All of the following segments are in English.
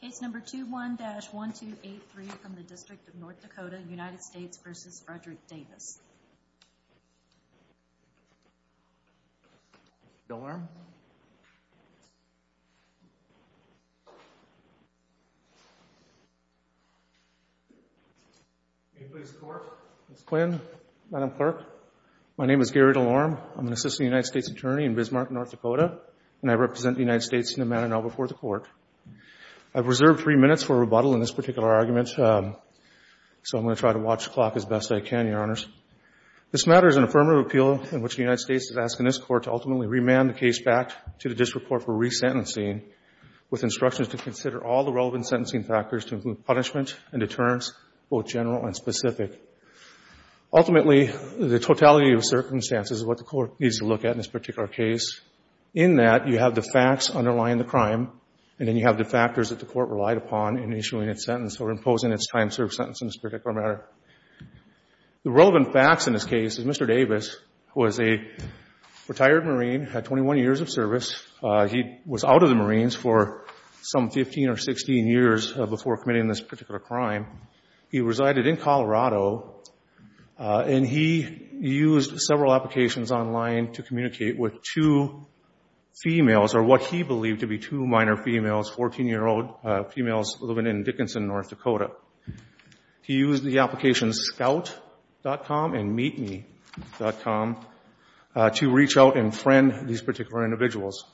Case number 21-1283 from the District of North Dakota, United States v. Fredrick Davis. Delorme. May it please the Court. Ms. Quinn, Madam Clerk, my name is Gary Delorme. I'm an assistant United States attorney in Bismarck, North Dakota, and I represent the United States in the manner now before the Court. I've reserved three minutes for rebuttal in this particular argument, so I'm going to try to watch the clock as best I can, Your Honors. This matter is an affirmative appeal in which the United States is asking this Court to ultimately remand the case back to the district court for resentencing with instructions to consider all the relevant sentencing factors to include punishment and deterrence, both general and specific. Ultimately, the totality of circumstances is what the Court needs to look at in this particular case in that you have the facts underlying the crime, and then you have the factors that the Court relied upon in issuing its sentence or imposing its time-served sentence in this particular matter. The relevant facts in this case is Mr. Davis was a retired Marine, had 21 years of service. He was out of the Marines for some 15 or 16 years before committing this particular crime. He resided in Colorado, and he used several applications online to communicate with two females, or what he believed to be two minor females, 14-year-old females living in Dickinson, North Dakota. He used the applications scout.com and meetme.com to reach out and friend these particular individuals.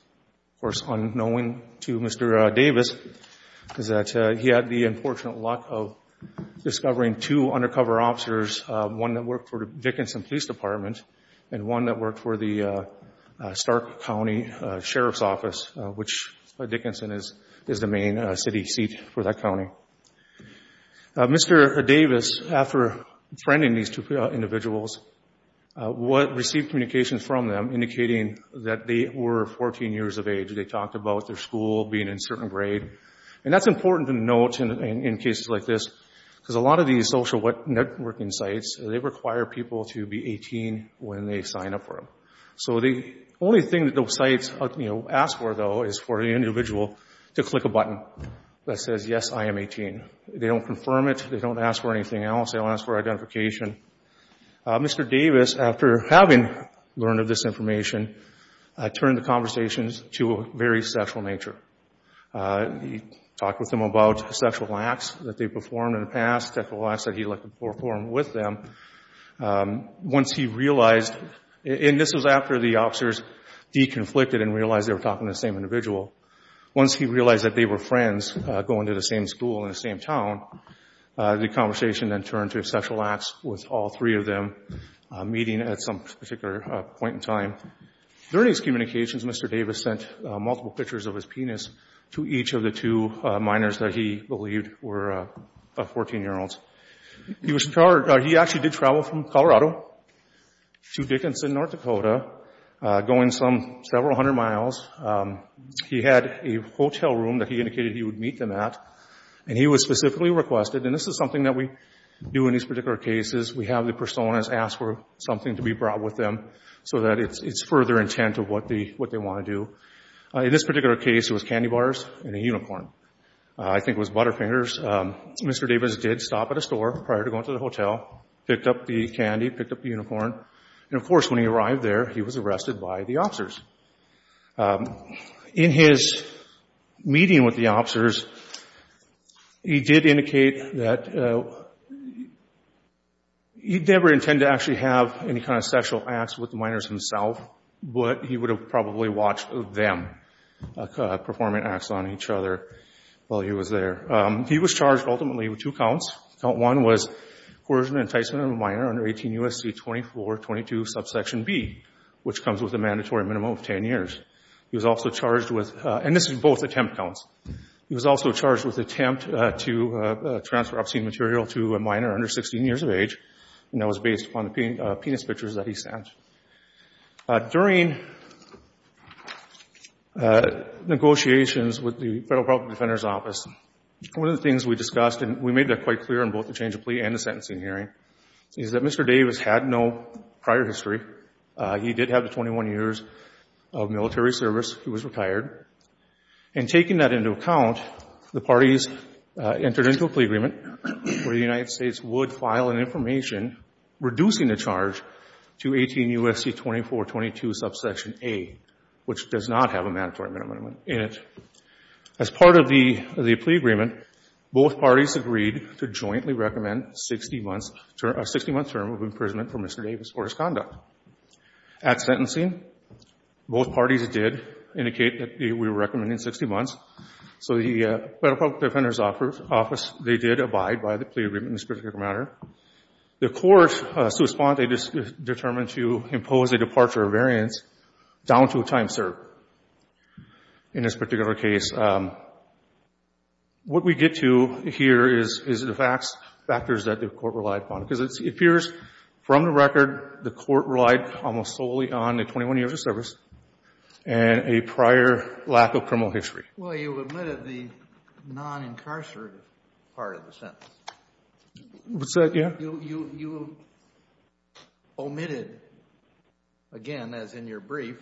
Of course, unknowing to Mr. Davis is that he had the unfortunate luck of discovering two undercover officers, one that worked for the Dickinson Police Department, and one that worked for the Stark County Sheriff's Office, which Dickinson is the main city seat for that county. Mr. Davis, after friending these two individuals, received communication from them indicating that they were 14 years of age. They talked about their school being in a certain grade. And that's important to note in cases like this because a lot of these social networking sites, they require people to be 18 when they sign up for them. So the only thing that those sites ask for, though, is for the individual to click a button that says, yes, I am 18. They don't confirm it. They don't ask for anything else. They don't ask for identification. Mr. Davis, after having learned of this information, turned the conversations to a very sexual nature. He talked with them about sexual acts that they performed in the past, sexual acts that he liked to perform with them. Once he realized, and this was after the officers deconflicted and realized they were talking to the same individual, once he realized that they were friends going to the same school in the same town, the conversation then turned to sexual acts with all three of them meeting at some particular point in time. During these communications, Mr. Davis sent multiple pictures of his penis to each of the two minors that he believed were 14-year-olds. He actually did travel from Colorado to Dickinson, North Dakota, going several hundred miles. He had a hotel room that he indicated he would meet them at. And he was specifically requested, and this is something that we do in these particular cases, we have the personas ask for something to be brought with them so that it's further intent of what they want to do. In this particular case, it was candy bars and a unicorn. I think it was Butterfingers. Mr. Davis did stop at a store prior to going to the hotel, picked up the candy, picked up the unicorn. And, of course, when he arrived there, he was arrested by the officers. In his meeting with the officers, he did indicate that he never intended to actually have any kind of sexual acts with the minors himself, but he would have probably watched them performing acts on each other while he was there. He was charged ultimately with two counts. Count one was coercion, enticement of a minor under 18 U.S.C. 2422 subsection B, which comes with a mandatory minimum of 10 years. He was also charged with, and this is both attempt counts, he was also charged with attempt to transfer obscene material to a minor under 16 years of age. And that was based upon the penis pictures that he sent. During negotiations with the Federal Public Defender's Office, one of the things we discussed, and we made that quite clear in both the change of plea and the sentencing hearing, is that Mr. Davis had no prior history. He did have the 21 years of military service. He was retired. And taking that into account, the parties entered into a plea agreement where the charge to 18 U.S.C. 2422 subsection A, which does not have a mandatory minimum in it. As part of the plea agreement, both parties agreed to jointly recommend a 60-month term of imprisonment for Mr. Davis for his conduct. At sentencing, both parties did indicate that we were recommending 60 months. So the Federal Public Defender's Office, they did abide by the plea agreement in this particular matter. The court's response, they determined to impose a departure of variance down to a time served. In this particular case, what we get to here is the facts, factors that the court relied upon. Because it appears from the record the court relied almost solely on the 21 years of service and a prior lack of criminal history. Well, you omitted the non-incarcerative part of the sentence. Was that, yeah? You omitted, again, as in your brief,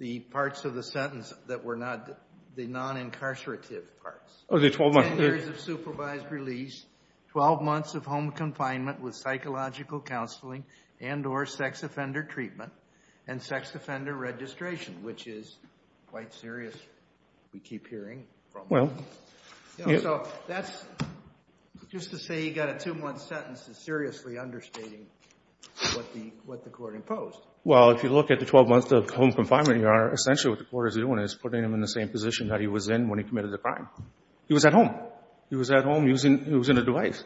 the parts of the sentence that were not the non-incarcerative parts. Oh, the 12 months. Ten years of supervised release, 12 months of home confinement with psychological counseling and or sex offender treatment and sex offender registration, which is quite serious. We keep hearing from them. Well, yeah. So that's, just to say you got a two-month sentence is seriously understating what the court imposed. Well, if you look at the 12 months of home confinement, Your Honor, essentially what the court is doing is putting him in the same position that he was in when he committed the crime. He was at home. He was at home using a device.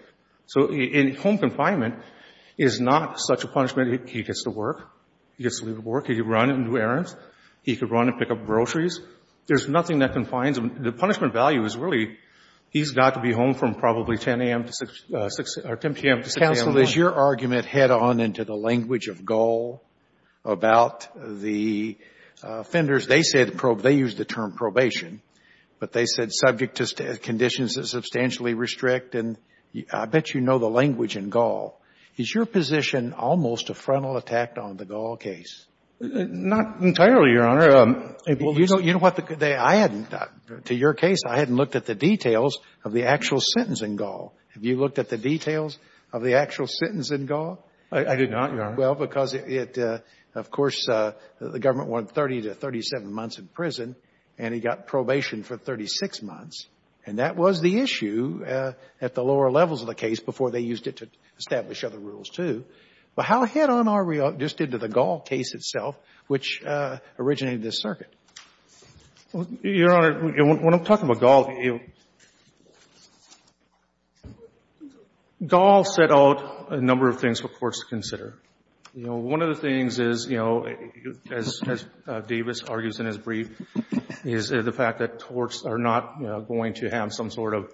So in home confinement, it is not such a punishment. He gets to work. He gets to leave work. He can run and do errands. He can run and pick up groceries. There's nothing that confines him. The punishment value is really he's got to be home from probably 10 a.m. to 6 or 10 p.m. to 6 a.m. to 1. Counsel, is your argument head on into the language of Gohl about the offenders? They say the pro they use the term probation, but they said subject to conditions that substantially restrict, and I bet you know the language in Gohl. Is your position almost a frontal attack on the Gohl case? Not entirely, Your Honor. Well, you know what? I hadn't, to your case, I hadn't looked at the details of the actual sentence in Gohl. Have you looked at the details of the actual sentence in Gohl? I did not, Your Honor. Well, because it, of course, the government wanted 30 to 37 months in prison, and he got probation for 36 months. And that was the issue at the lower levels of the case before they used it to establish other rules, too. But how head on are we just into the Gohl case itself, which originated this circuit? Your Honor, when I'm talking about Gohl, Gohl set out a number of things for courts to consider. You know, one of the things is, you know, as Davis argues in his brief, is the fact that courts are not going to have some sort of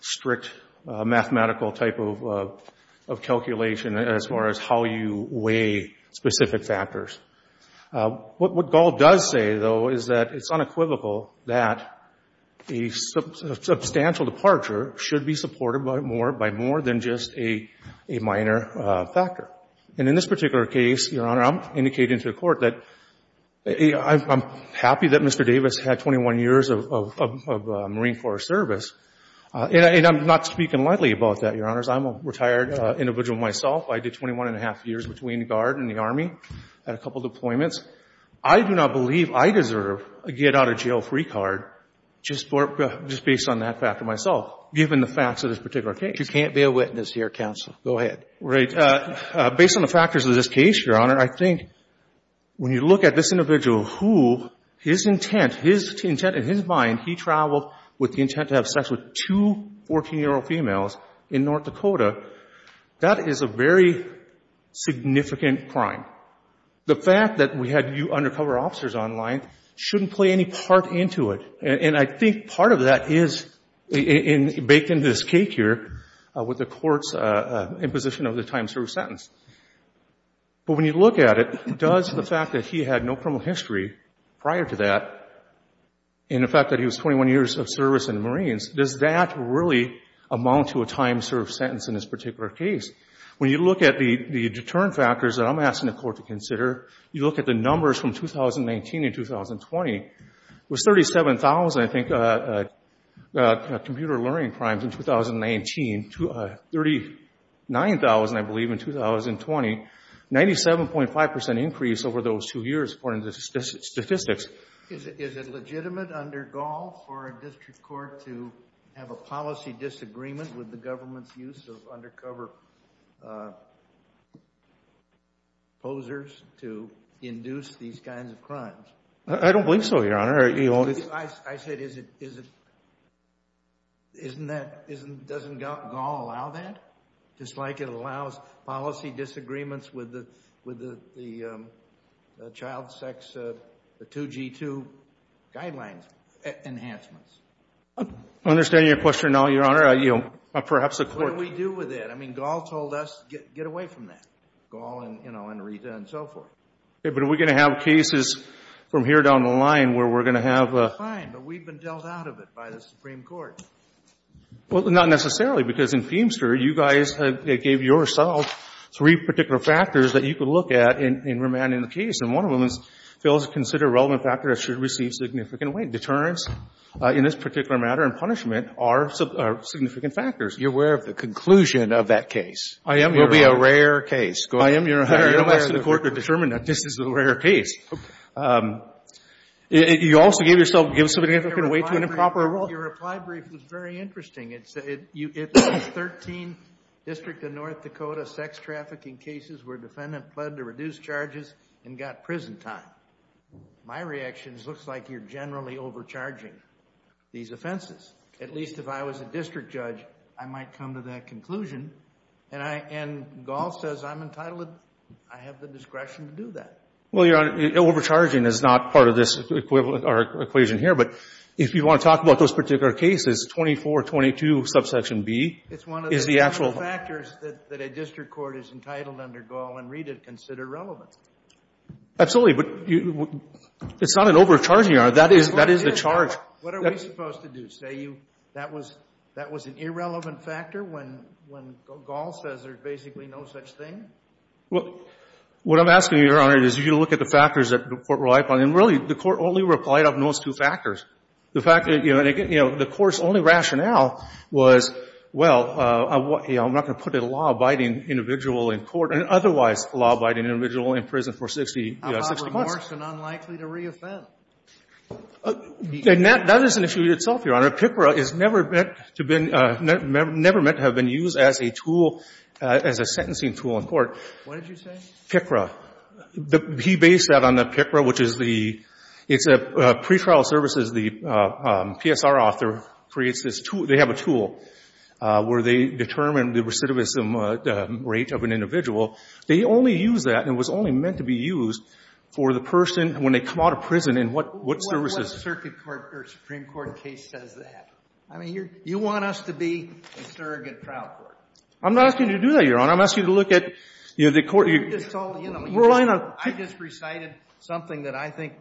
strict mathematical type of calculation as far as how you weigh specific factors. What Gohl does say, though, is that it's unequivocal that a substantial departure should be supported by more than just a minor factor. And in this particular case, Your Honor, I'm indicating to the Court that I'm happy that Mr. Davis had 21 years of Marine Corps service. And I'm not speaking lightly about that, Your Honors. I'm a retired individual myself. I did 21 and a half years between the Guard and the Army, had a couple deployments. I do not believe I deserve a get-out-of-jail-free card just based on that fact myself, given the facts of this particular case. You can't be a witness here, counsel. Go ahead. Right. Based on the factors of this case, Your Honor, I think when you look at this individual who, his intent, his intent in his mind, he traveled with the intent to have sex with two 14-year-old females in North Dakota, that is a very significant crime. The fact that we had new undercover officers online shouldn't play any part into it. And I think part of that is baked into this cake here with the Court's imposition of the time-served sentence. But when you look at it, does the fact that he had no criminal history prior to that, and the fact that he was 21 years of service in the Marines, does that really amount to a time-served sentence in this particular case? When you look at the deterrent factors that I'm asking the Court to consider, you look at the numbers from 2019 and 2020. It was 37,000, I think, computer learning crimes in 2019. 39,000, I believe, in 2020. 97.5% increase over those two years, according to statistics. Is it legitimate under Gall for a district court to have a policy disagreement with the government's use of undercover posers to induce these kinds of crimes? I don't believe so, Your Honor. I said, doesn't Gall allow that? Just like it allows policy disagreements with the child sex 2G2 guidelines enhancements? I understand your question now, Your Honor. What do we do with that? I mean, Gall told us, get away from that, Gall and Rita and so forth. But are we going to have cases from here down the line where we're going to have a Fine, but we've been dealt out of it by the Supreme Court. Well, not necessarily, because in Feimster, you guys gave yourself three particular factors that you could look at in remanding the case. And one of them is to consider relevant factors that should receive significant weight. Deterrents in this particular matter and punishment are significant factors. You're aware of the conclusion of that case? I am, Your Honor. It will be a rare case. I am, Your Honor. You don't have to ask the court to determine that this is a rare case. You also gave yourself significant weight to an improper rule? Your reply brief was very interesting. It says 13 District of North Dakota sex trafficking cases where defendant pled to reduce charges and got prison time. My reaction is it looks like you're generally overcharging these offenses. At least if I was a district judge, I might come to that conclusion. And Gall says I'm entitled, I have the discretion to do that. Well, Your Honor, overcharging is not part of this equation here. But if you want to talk about those particular cases, 2422 subsection B is the actual. It's one of the factors that a district court is entitled under Gall and Reed to consider relevant. Absolutely. But it's not an overcharging, Your Honor. That is the charge. What are we supposed to do? That was an irrelevant factor when Gall says there's basically no such thing? Well, what I'm asking, Your Honor, is you look at the factors that the court relied upon. And really, the court only replied on those two factors. The fact that the court's only rationale was, well, I'm not going to put a law-abiding individual in court and otherwise law-abiding individual in prison for 60 months. And unlikely to reoffend. And that is an issue itself, Your Honor. PICRA is never meant to have been used as a tool, as a sentencing tool in court. What did you say? PICRA. He based that on the PICRA, which is the pre-trial services. The PSR author creates this tool. They have a tool where they determine the recidivism rate of an individual. They only use that. And it was only meant to be used for the person when they come out of prison and what services. What circuit court or Supreme Court case says that? I mean, you want us to be a surrogate trial court. I'm not asking you to do that, Your Honor. I'm asking you to look at the court. I just recited something that I think,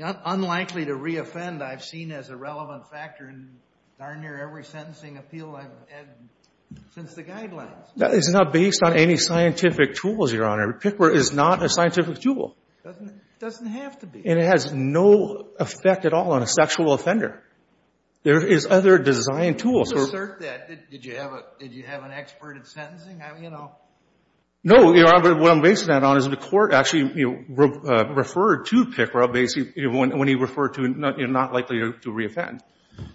unlikely to reoffend, I've seen as a relevant factor in darn near every sentencing appeal I've had since the guidelines. That is not based on any scientific tools, Your Honor. PICRA is not a scientific tool. It doesn't have to be. And it has no effect at all on a sexual offender. There is other design tools. You assert that. Did you have an expert in sentencing? No, Your Honor. What I'm basing that on is the court actually referred to PICRA when he referred to not likely to reoffend.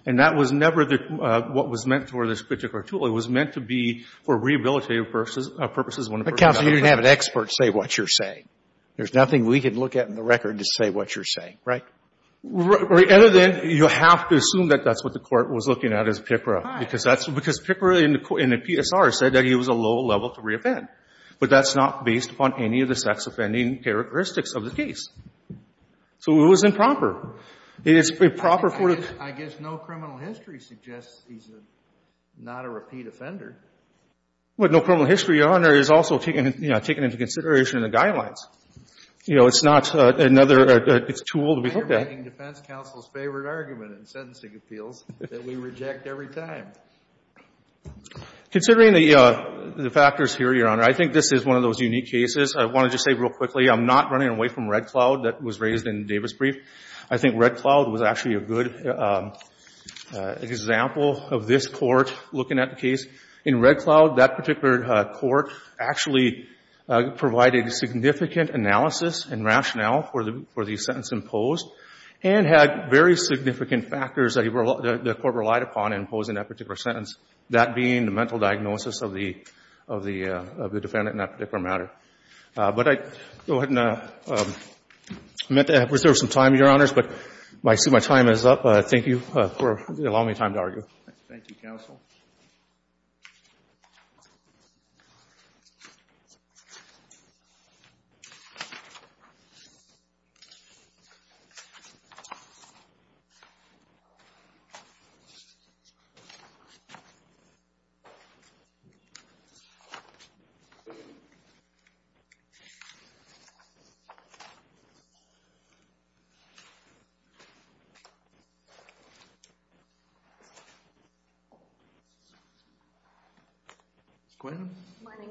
And that was never what was meant for this particular tool. It was meant to be for rehabilitative purposes. Counsel, you didn't have an expert say what you're saying. There's nothing we can look at in the record to say what you're saying, right? Other than you have to assume that that's what the court was looking at as PICRA, because PICRA in the PSR said that he was a low level to reoffend. But that's not based upon any of the sex offending characteristics of the case. So it was improper. I guess no criminal history suggests he's not a repeat offender. No criminal history, Your Honor, is also taken into consideration in the guidelines. You know, it's not another tool to be looked at. You're making defense counsel's favorite argument in sentencing appeals that we reject every time. Considering the factors here, Your Honor, I think this is one of those unique cases. I want to just say real quickly, I'm not running away from Red Cloud that was raised in Davis brief. I think Red Cloud was actually a good example of this court looking at the case. In Red Cloud, that particular court actually provided significant analysis and rationale for the sentence imposed and had very significant factors that the court relied upon in imposing that particular sentence, that being the mental diagnosis of the defendant in that particular matter. But I'd go ahead and reserve some time, Your Honors. But I see my time is up. Thank you for allowing me time to argue. Quinn. Good morning.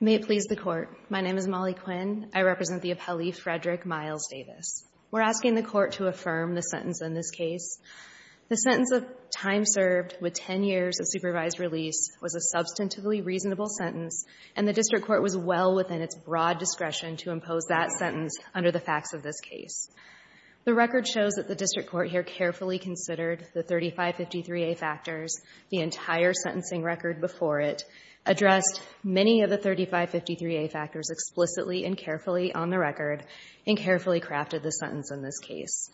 May it please the Court. My name is Molly Quinn. I represent the appellee, Frederick Miles Davis. The sentence of time served with 10 years of supervised release was a substantively reasonable sentence, and the district court was well within its broad discretion to impose that sentence under the facts of this case. The record shows that the district court here carefully considered the 3553A factors, the entire sentencing record before it, addressed many of the 3553A factors explicitly and carefully on the record and carefully crafted the sentence in this case.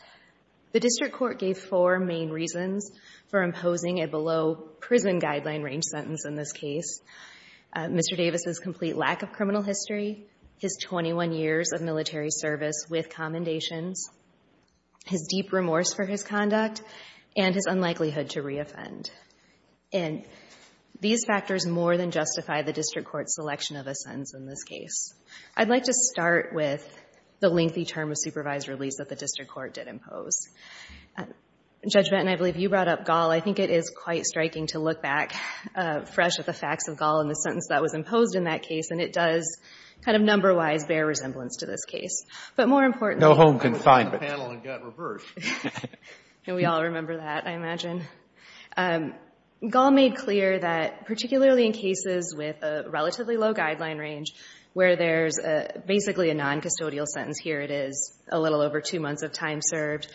The district court gave four main reasons for imposing a below prison guideline range sentence in this case, Mr. Davis' complete lack of criminal history, his 21 years of military service with commendations, his deep remorse for his conduct, and his unlikelihood to reoffend. And these factors more than justify the district court's selection of a sentence in this case. I'd like to start with the lengthy term of supervised release that the district court did impose. Judge Benton, I believe you brought up Gall. I think it is quite striking to look back fresh at the facts of Gall and the sentence that was imposed in that case, and it does kind of number-wise bear resemblance to this case. But more importantly — No home confinement. It was on the panel and got reversed. We all remember that, I imagine. Gall made clear that particularly in cases with a relatively low guideline range where there's basically a noncustodial sentence, here it is, a little over two months of time served,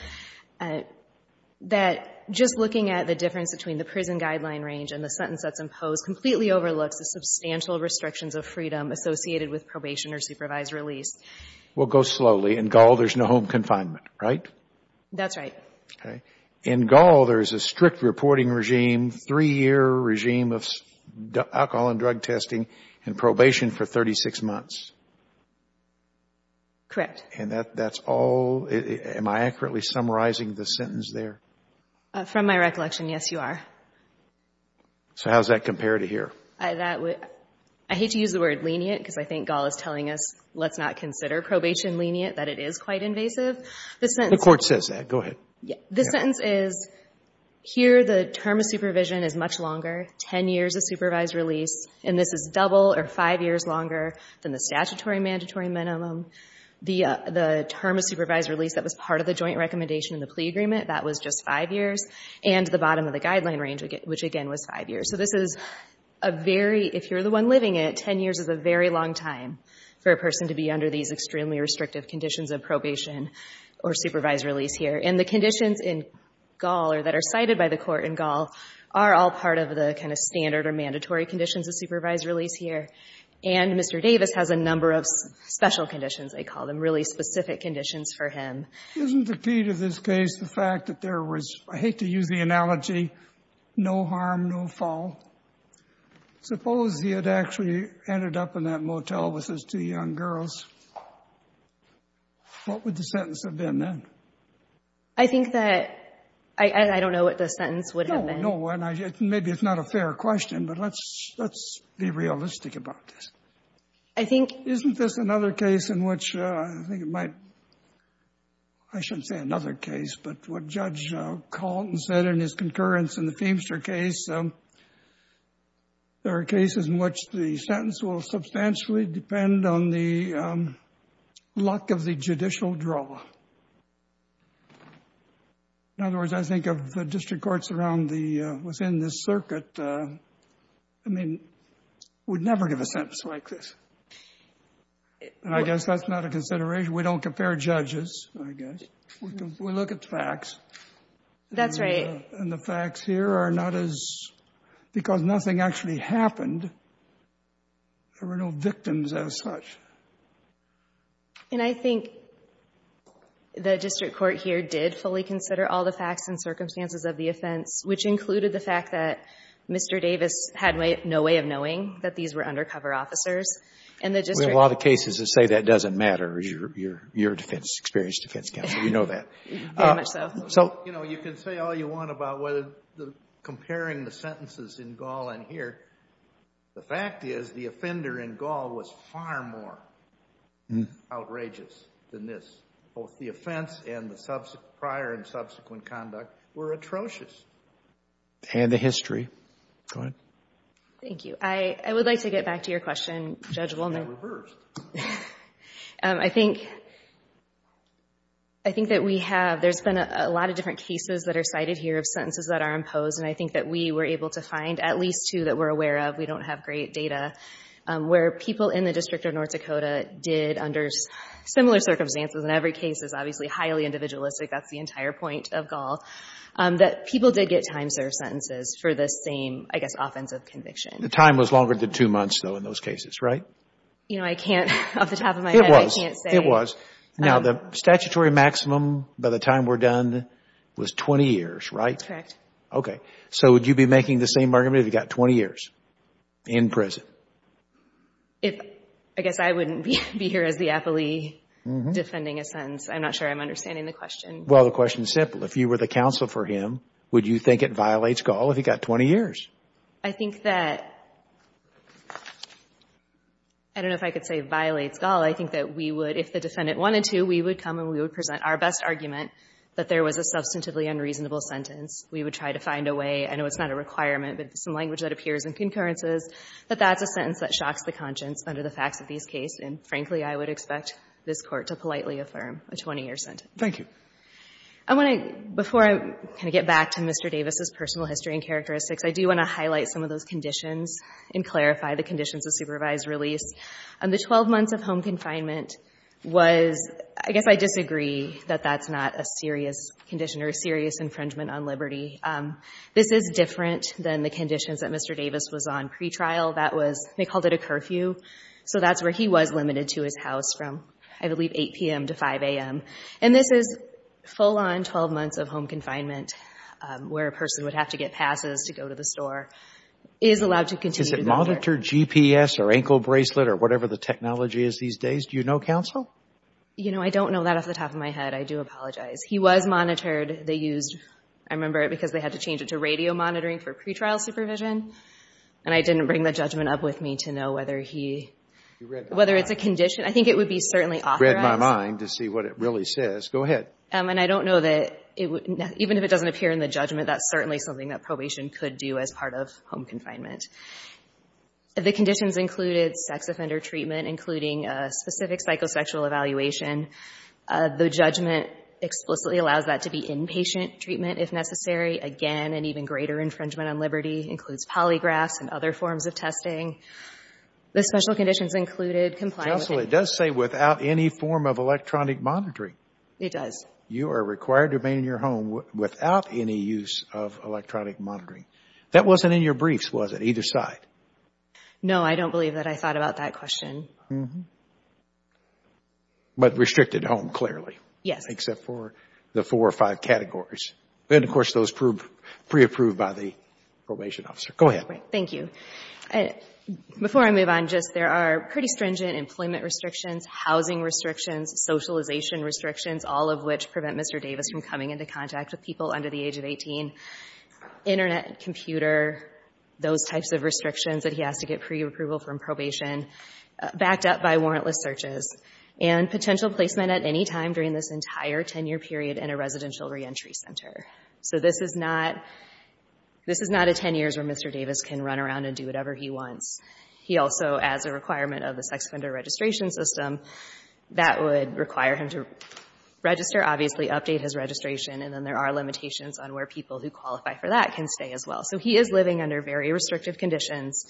that just looking at the difference between the prison guideline range and the sentence that's imposed completely overlooks the substantial restrictions of freedom associated with probation or supervised release. Well, go slowly. In Gall, there's no home confinement, right? That's right. Okay. In Gall, there's a strict reporting regime, three-year regime of alcohol and drug testing and probation for 36 months. Correct. And that's all — am I accurately summarizing the sentence there? From my recollection, yes, you are. So how does that compare to here? I hate to use the word lenient because I think Gall is telling us let's not consider probation lenient, that it is quite invasive. The court says that. Go ahead. The sentence is, here the term of supervision is much longer, 10 years of supervised release, and this is double or five years longer than the statutory mandatory minimum. The term of supervised release that was part of the joint recommendation in the plea agreement, that was just five years, and the bottom of the guideline range, which again was five years. So this is a very — if you're the one living it, 10 years is a very long time for a person to be or supervised release here. And the conditions in Gall or that are cited by the court in Gall are all part of the kind of standard or mandatory conditions of supervised release here. And Mr. Davis has a number of special conditions, they call them, really specific conditions for him. Isn't the key to this case the fact that there was — I hate to use the analogy no harm, no foul? Suppose he had actually ended up in that motel with his two young girls. What would the sentence have been then? I think that — I don't know what the sentence would have been. No. No. And maybe it's not a fair question, but let's be realistic about this. I think — Isn't this another case in which — I think it might — I shouldn't say another case, but what Judge Colton said in his concurrence in the Feimster case, there are cases in which the sentence will substantially depend on the luck of the judicial draw. In other words, I think of the district courts around the — within this circuit, I mean, would never give a sentence like this. And I guess that's not a consideration. We don't compare judges, I guess. We look at the facts. That's right. And the facts here are not as — because nothing actually happened, there were no victims as such. And I think the district court here did fully consider all the facts and circumstances of the offense, which included the fact that Mr. Davis had no way of knowing that these were undercover officers. And the district court — We have a lot of cases that say that doesn't matter. You're a defense — experienced defense counsel. You know that. Very much so. You know, you can say all you want about whether — comparing the sentences in Gaul and here. The fact is the offender in Gaul was far more outrageous than this. Both the offense and the prior and subsequent conduct were atrocious. And the history. Go ahead. Thank you. I would like to get back to your question, Judge Woolman. You got reversed. I think — I think that we have — there's been a lot of different cases that are cited here of sentences that are imposed. And I think that we were able to find at least two that we're aware of. We don't have great data. Where people in the District of North Dakota did, under similar circumstances — and every case is obviously highly individualistic, that's the entire point of Gaul — that people did get time-served sentences for the same, I guess, offensive conviction. The time was longer than two months, though, in those cases, right? You know, I can't — off the top of my head, I can't say. It was. Now, the statutory maximum by the time we're done was 20 years, right? Correct. Okay. So would you be making the same argument if he got 20 years in prison? If — I guess I wouldn't be here as the affilee defending a sentence. I'm not sure I'm understanding the question. Well, the question is simple. If you were the counsel for him, would you think it violates Gaul if he got 20 years? I think that — I don't know if I could say violates Gaul. I think that we would — if the defendant wanted to, we would come and we would present our best argument that there was a substantively unreasonable sentence. We would try to find a way — I know it's not a requirement, but some language that appears in concurrences — that that's a sentence that shocks the conscience under the facts of these cases. And, frankly, I would expect this Court to politely affirm a 20-year sentence. Thank you. I want to — before I kind of get back to Mr. Davis's personal history and characteristics, I do want to highlight some of those conditions and clarify the conditions of supervised release. The 12 months of home confinement was — I guess I disagree that that's not a serious condition or a serious infringement on liberty. This is different than the conditions that Mr. Davis was on pre-trial. That was — they called it a curfew. So that's where he was limited to his house from, I believe, 8 p.m. to 5 a.m. And this is full-on 12 months of home confinement where a person would have to get to the store, is allowed to continue to — Is it monitored GPS or ankle bracelet or whatever the technology is these days? Do you know, counsel? You know, I don't know that off the top of my head. I do apologize. He was monitored. They used — I remember it because they had to change it to radio monitoring for pre-trial supervision. And I didn't bring the judgment up with me to know whether he — You read my mind. — whether it's a condition. I think it would be certainly authorized. You read my mind to see what it really says. Go ahead. And I don't know that it would — even if it doesn't appear in the judgment, that's certainly something that probation could do as part of home confinement. The conditions included sex offender treatment, including a specific psychosexual evaluation. The judgment explicitly allows that to be inpatient treatment if necessary. Again, an even greater infringement on liberty includes polygraphs and other forms of testing. The special conditions included complying with — Counsel, it does say without any form of electronic monitoring. It does. You are required to remain in your home without any use of electronic monitoring. That wasn't in your briefs, was it, either side? No, I don't believe that I thought about that question. But restricted home, clearly. Yes. Except for the four or five categories. And, of course, those pre-approved by the probation officer. Go ahead. Thank you. Before I move on, just there are pretty stringent employment restrictions, housing restrictions, socialization restrictions, all of which prevent Mr. Davis from coming into contact with people under the age of 18. Internet, computer, those types of restrictions that he has to get pre-approval from probation, backed up by warrantless searches, and potential placement at any time during this entire 10-year period in a residential reentry center. So this is not a 10 years where Mr. Davis can run around and do whatever he wants. He also, as a requirement of the sex offender registration system, that would require him to register, obviously update his registration, and then there are limitations on where people who qualify for that can stay as well. So he is living under very restrictive conditions.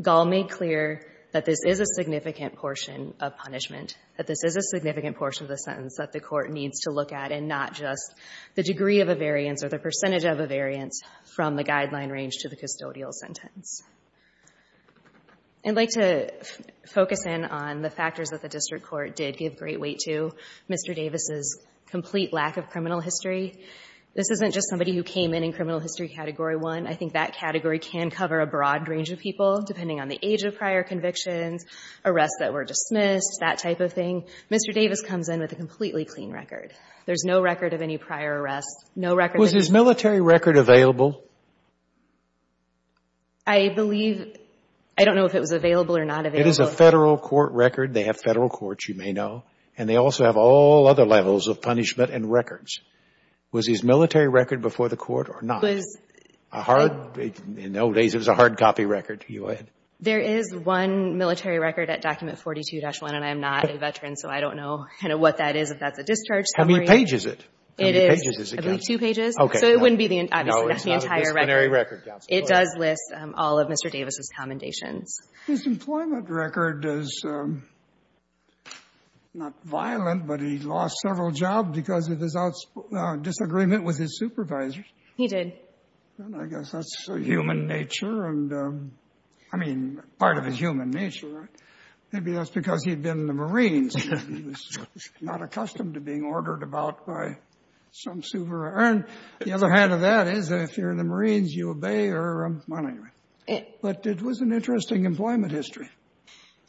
Gall made clear that this is a significant portion of punishment, that this is a significant portion of the sentence that the court needs to look at and not just the degree of a variance or the percentage of a variance from the guideline range to the custodial sentence. I'd like to focus in on the factors that the district court did give great weight to. Mr. Davis' complete lack of criminal history. This isn't just somebody who came in in criminal history category one. I think that category can cover a broad range of people, depending on the age of prior convictions, arrests that were dismissed, that type of thing. Mr. Davis comes in with a completely clean record. Was it available? I don't know if it was available or not available. It is a federal court record. They have federal courts, you may know, and they also have all other levels of punishment and records. Was his military record before the court or not? In the old days, it was a hard copy record. Go ahead. There is one military record at document 42-1, and I am not a veteran, so I don't know what that is, if that's a discharge summary. How many pages is it? It is, I believe, two pages. Okay. So it wouldn't be the entire record. No, it's not a disciplinary record. It does list all of Mr. Davis' commendations. His employment record is not violent, but he lost several jobs because of his disagreement with his supervisors. He did. I guess that's human nature and, I mean, part of his human nature. Maybe that's because he had been in the Marines. He was not accustomed to being ordered about by some supervisor. The other hand of that is, if you're in the Marines, you obey your money. But it was an interesting employment history.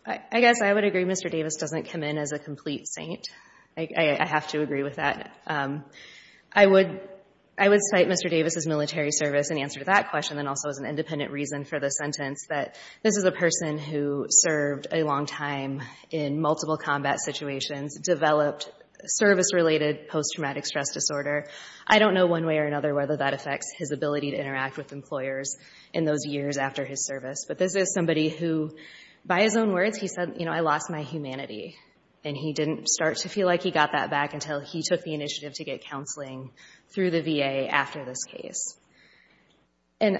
I guess I would agree Mr. Davis doesn't come in as a complete saint. I have to agree with that. I would cite Mr. Davis' military service in answer to that question and also as an independent reason for the sentence, that this is a person who served a long time in multiple combat situations, developed service-related post-traumatic stress disorder. I don't know one way or another whether that affects his ability to interact with employers in those years after his service. But this is somebody who, by his own words, he said, you know, I lost my humanity. And he didn't start to feel like he got that back until he took the initiative to get counseling through the VA after this case. And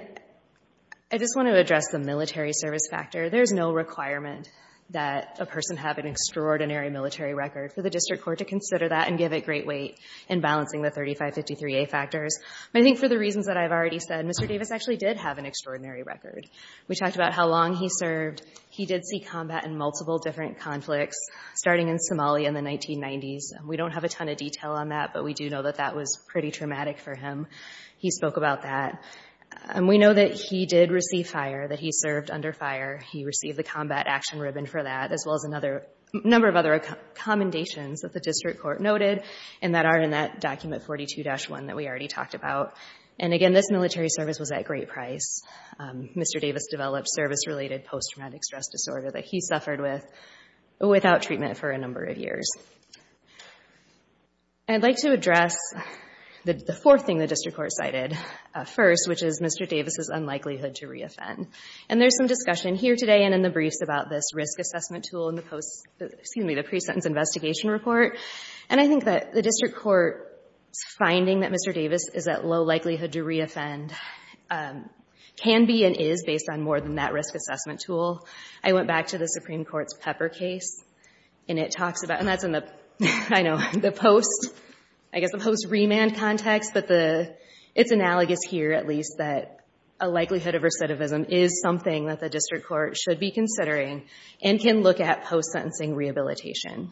I just want to address the military service factor. There's no requirement that a person have an extraordinary military record for the district court to consider that and give it great weight in balancing the 3553A factors. I think for the reasons that I've already said, Mr. Davis actually did have an extraordinary record. We talked about how long he served. He did see combat in multiple different conflicts, starting in Somalia in the 1990s. We don't have a ton of detail on that, but we do know that that was pretty traumatic for him. He spoke about that. We know that he did receive fire, that he served under fire. He received the combat action ribbon for that, as well as a number of other commendations that the district court noted and that are in that document 42-1 that we already talked about. And, again, this military service was at great price. Mr. Davis developed service-related post-traumatic stress disorder that he suffered with without treatment for a number of years. I'd like to address the fourth thing the district court cited first, which is Mr. Davis' unlikelihood to re-offend. And there's some discussion here today and in the briefs about this risk assessment tool in the pre-sentence investigation report. And I think that the district court's finding that Mr. Davis is at low likelihood to re-offend can be and is based on more than that risk assessment tool. I went back to the Supreme Court's Pepper case, and that's in the post-remand context. But it's analogous here, at least, that a likelihood of recidivism is something that the district court should be considering and can look at post-sentencing rehabilitation.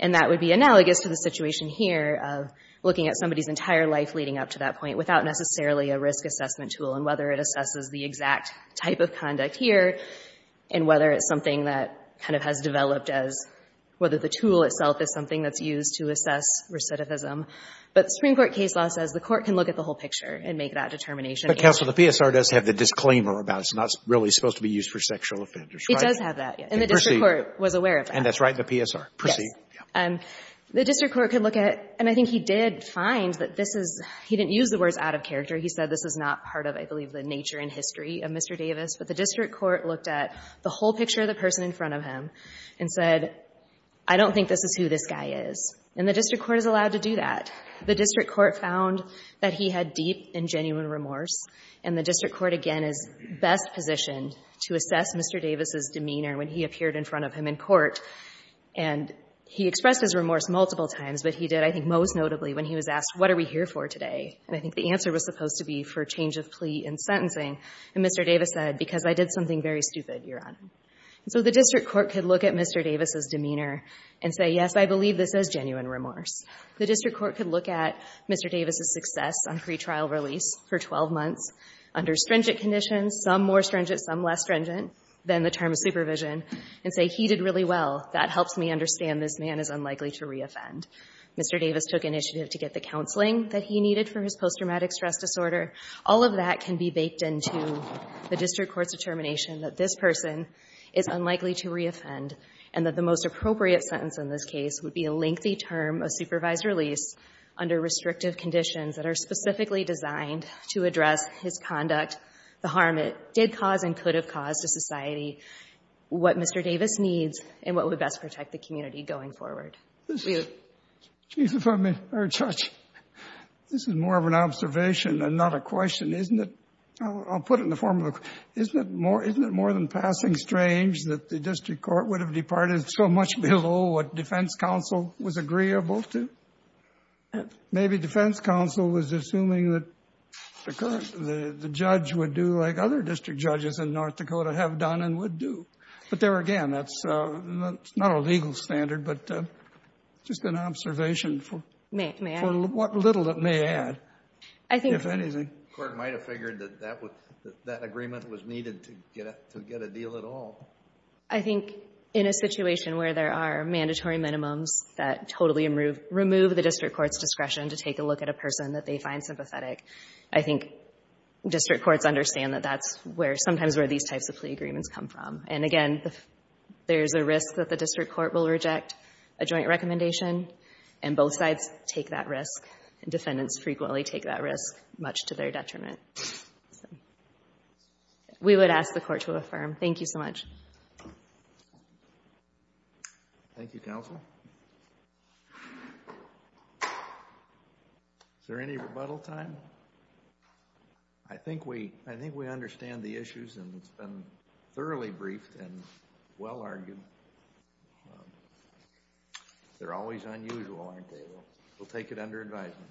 And that would be analogous to the situation here of looking at somebody's entire life leading up to that point without necessarily a risk assessment tool and whether it assesses the exact type of conduct here and whether it's something that kind of has developed as whether the tool itself is something that's used to assess recidivism. But the Supreme Court case law says the court can look at the whole picture and make that determination. But, counsel, the PSR does have the disclaimer about it's not really supposed to be used for sexual offenders, right? It does have that, yes. And the district court was aware of that. And that's right in the PSR. Yes. Proceed. The district court can look at, and I think he did find that this is he didn't use the words out of character. He said this is not part of, I believe, the nature and history of Mr. Davis. But the district court looked at the whole picture of the person in front of him and said, I don't think this is who this guy is. And the district court is allowed to do that. The district court found that he had deep and genuine remorse. And the district court, again, is best positioned to assess Mr. Davis' demeanor when he appeared in front of him in court. And he expressed his remorse multiple times, but he did, I think, most notably when he was asked, what are we here for today? And I think the answer was supposed to be for change of plea in sentencing. And Mr. Davis said, because I did something very stupid, Your Honor. So the district court could look at Mr. Davis' demeanor and say, yes, I believe this is genuine remorse. The district court could look at Mr. Davis' success on pretrial release for 12 months under stringent conditions, some more stringent, some less stringent than the term of supervision, and say, he did really well. That helps me understand this man is unlikely to reoffend. Mr. Davis took initiative to get the counseling that he needed for his post-traumatic stress disorder. All of that can be baked into the district court's determination that this person is unlikely to reoffend and that the most appropriate sentence in this case would be a lengthy term of supervised release under restrictive conditions that are specifically designed to address his conduct, the harm it did cause and could have caused to society, what Mr. Davis needs, and what would best protect the community going forward. This is more of an observation and not a question, isn't it? I'll put it in the form of a question. Isn't it more than passing strange that the district court would have departed so much below what defense counsel was agreeable to? Maybe defense counsel was assuming that the judge would do like other district judges in North Dakota have done and would do. But there again, that's not a legal standard, but just an observation for what little it may add, if anything. The court might have figured that that agreement was needed to get a deal at all. I think in a situation where there are mandatory minimums that totally remove the district court's discretion to take a look at a person that they find sympathetic, I think district courts understand that that's sometimes where these types of plea agreements come from. Again, there's a risk that the district court will reject a joint recommendation and both sides take that risk. Defendants frequently take that risk, much to their detriment. We would ask the court to affirm. Thank you so much. Thank you, counsel. Is there any rebuttal time? I think we understand the issues and it's been thoroughly briefed and well-argued. They're always unusual, aren't they? We'll take it under advisement.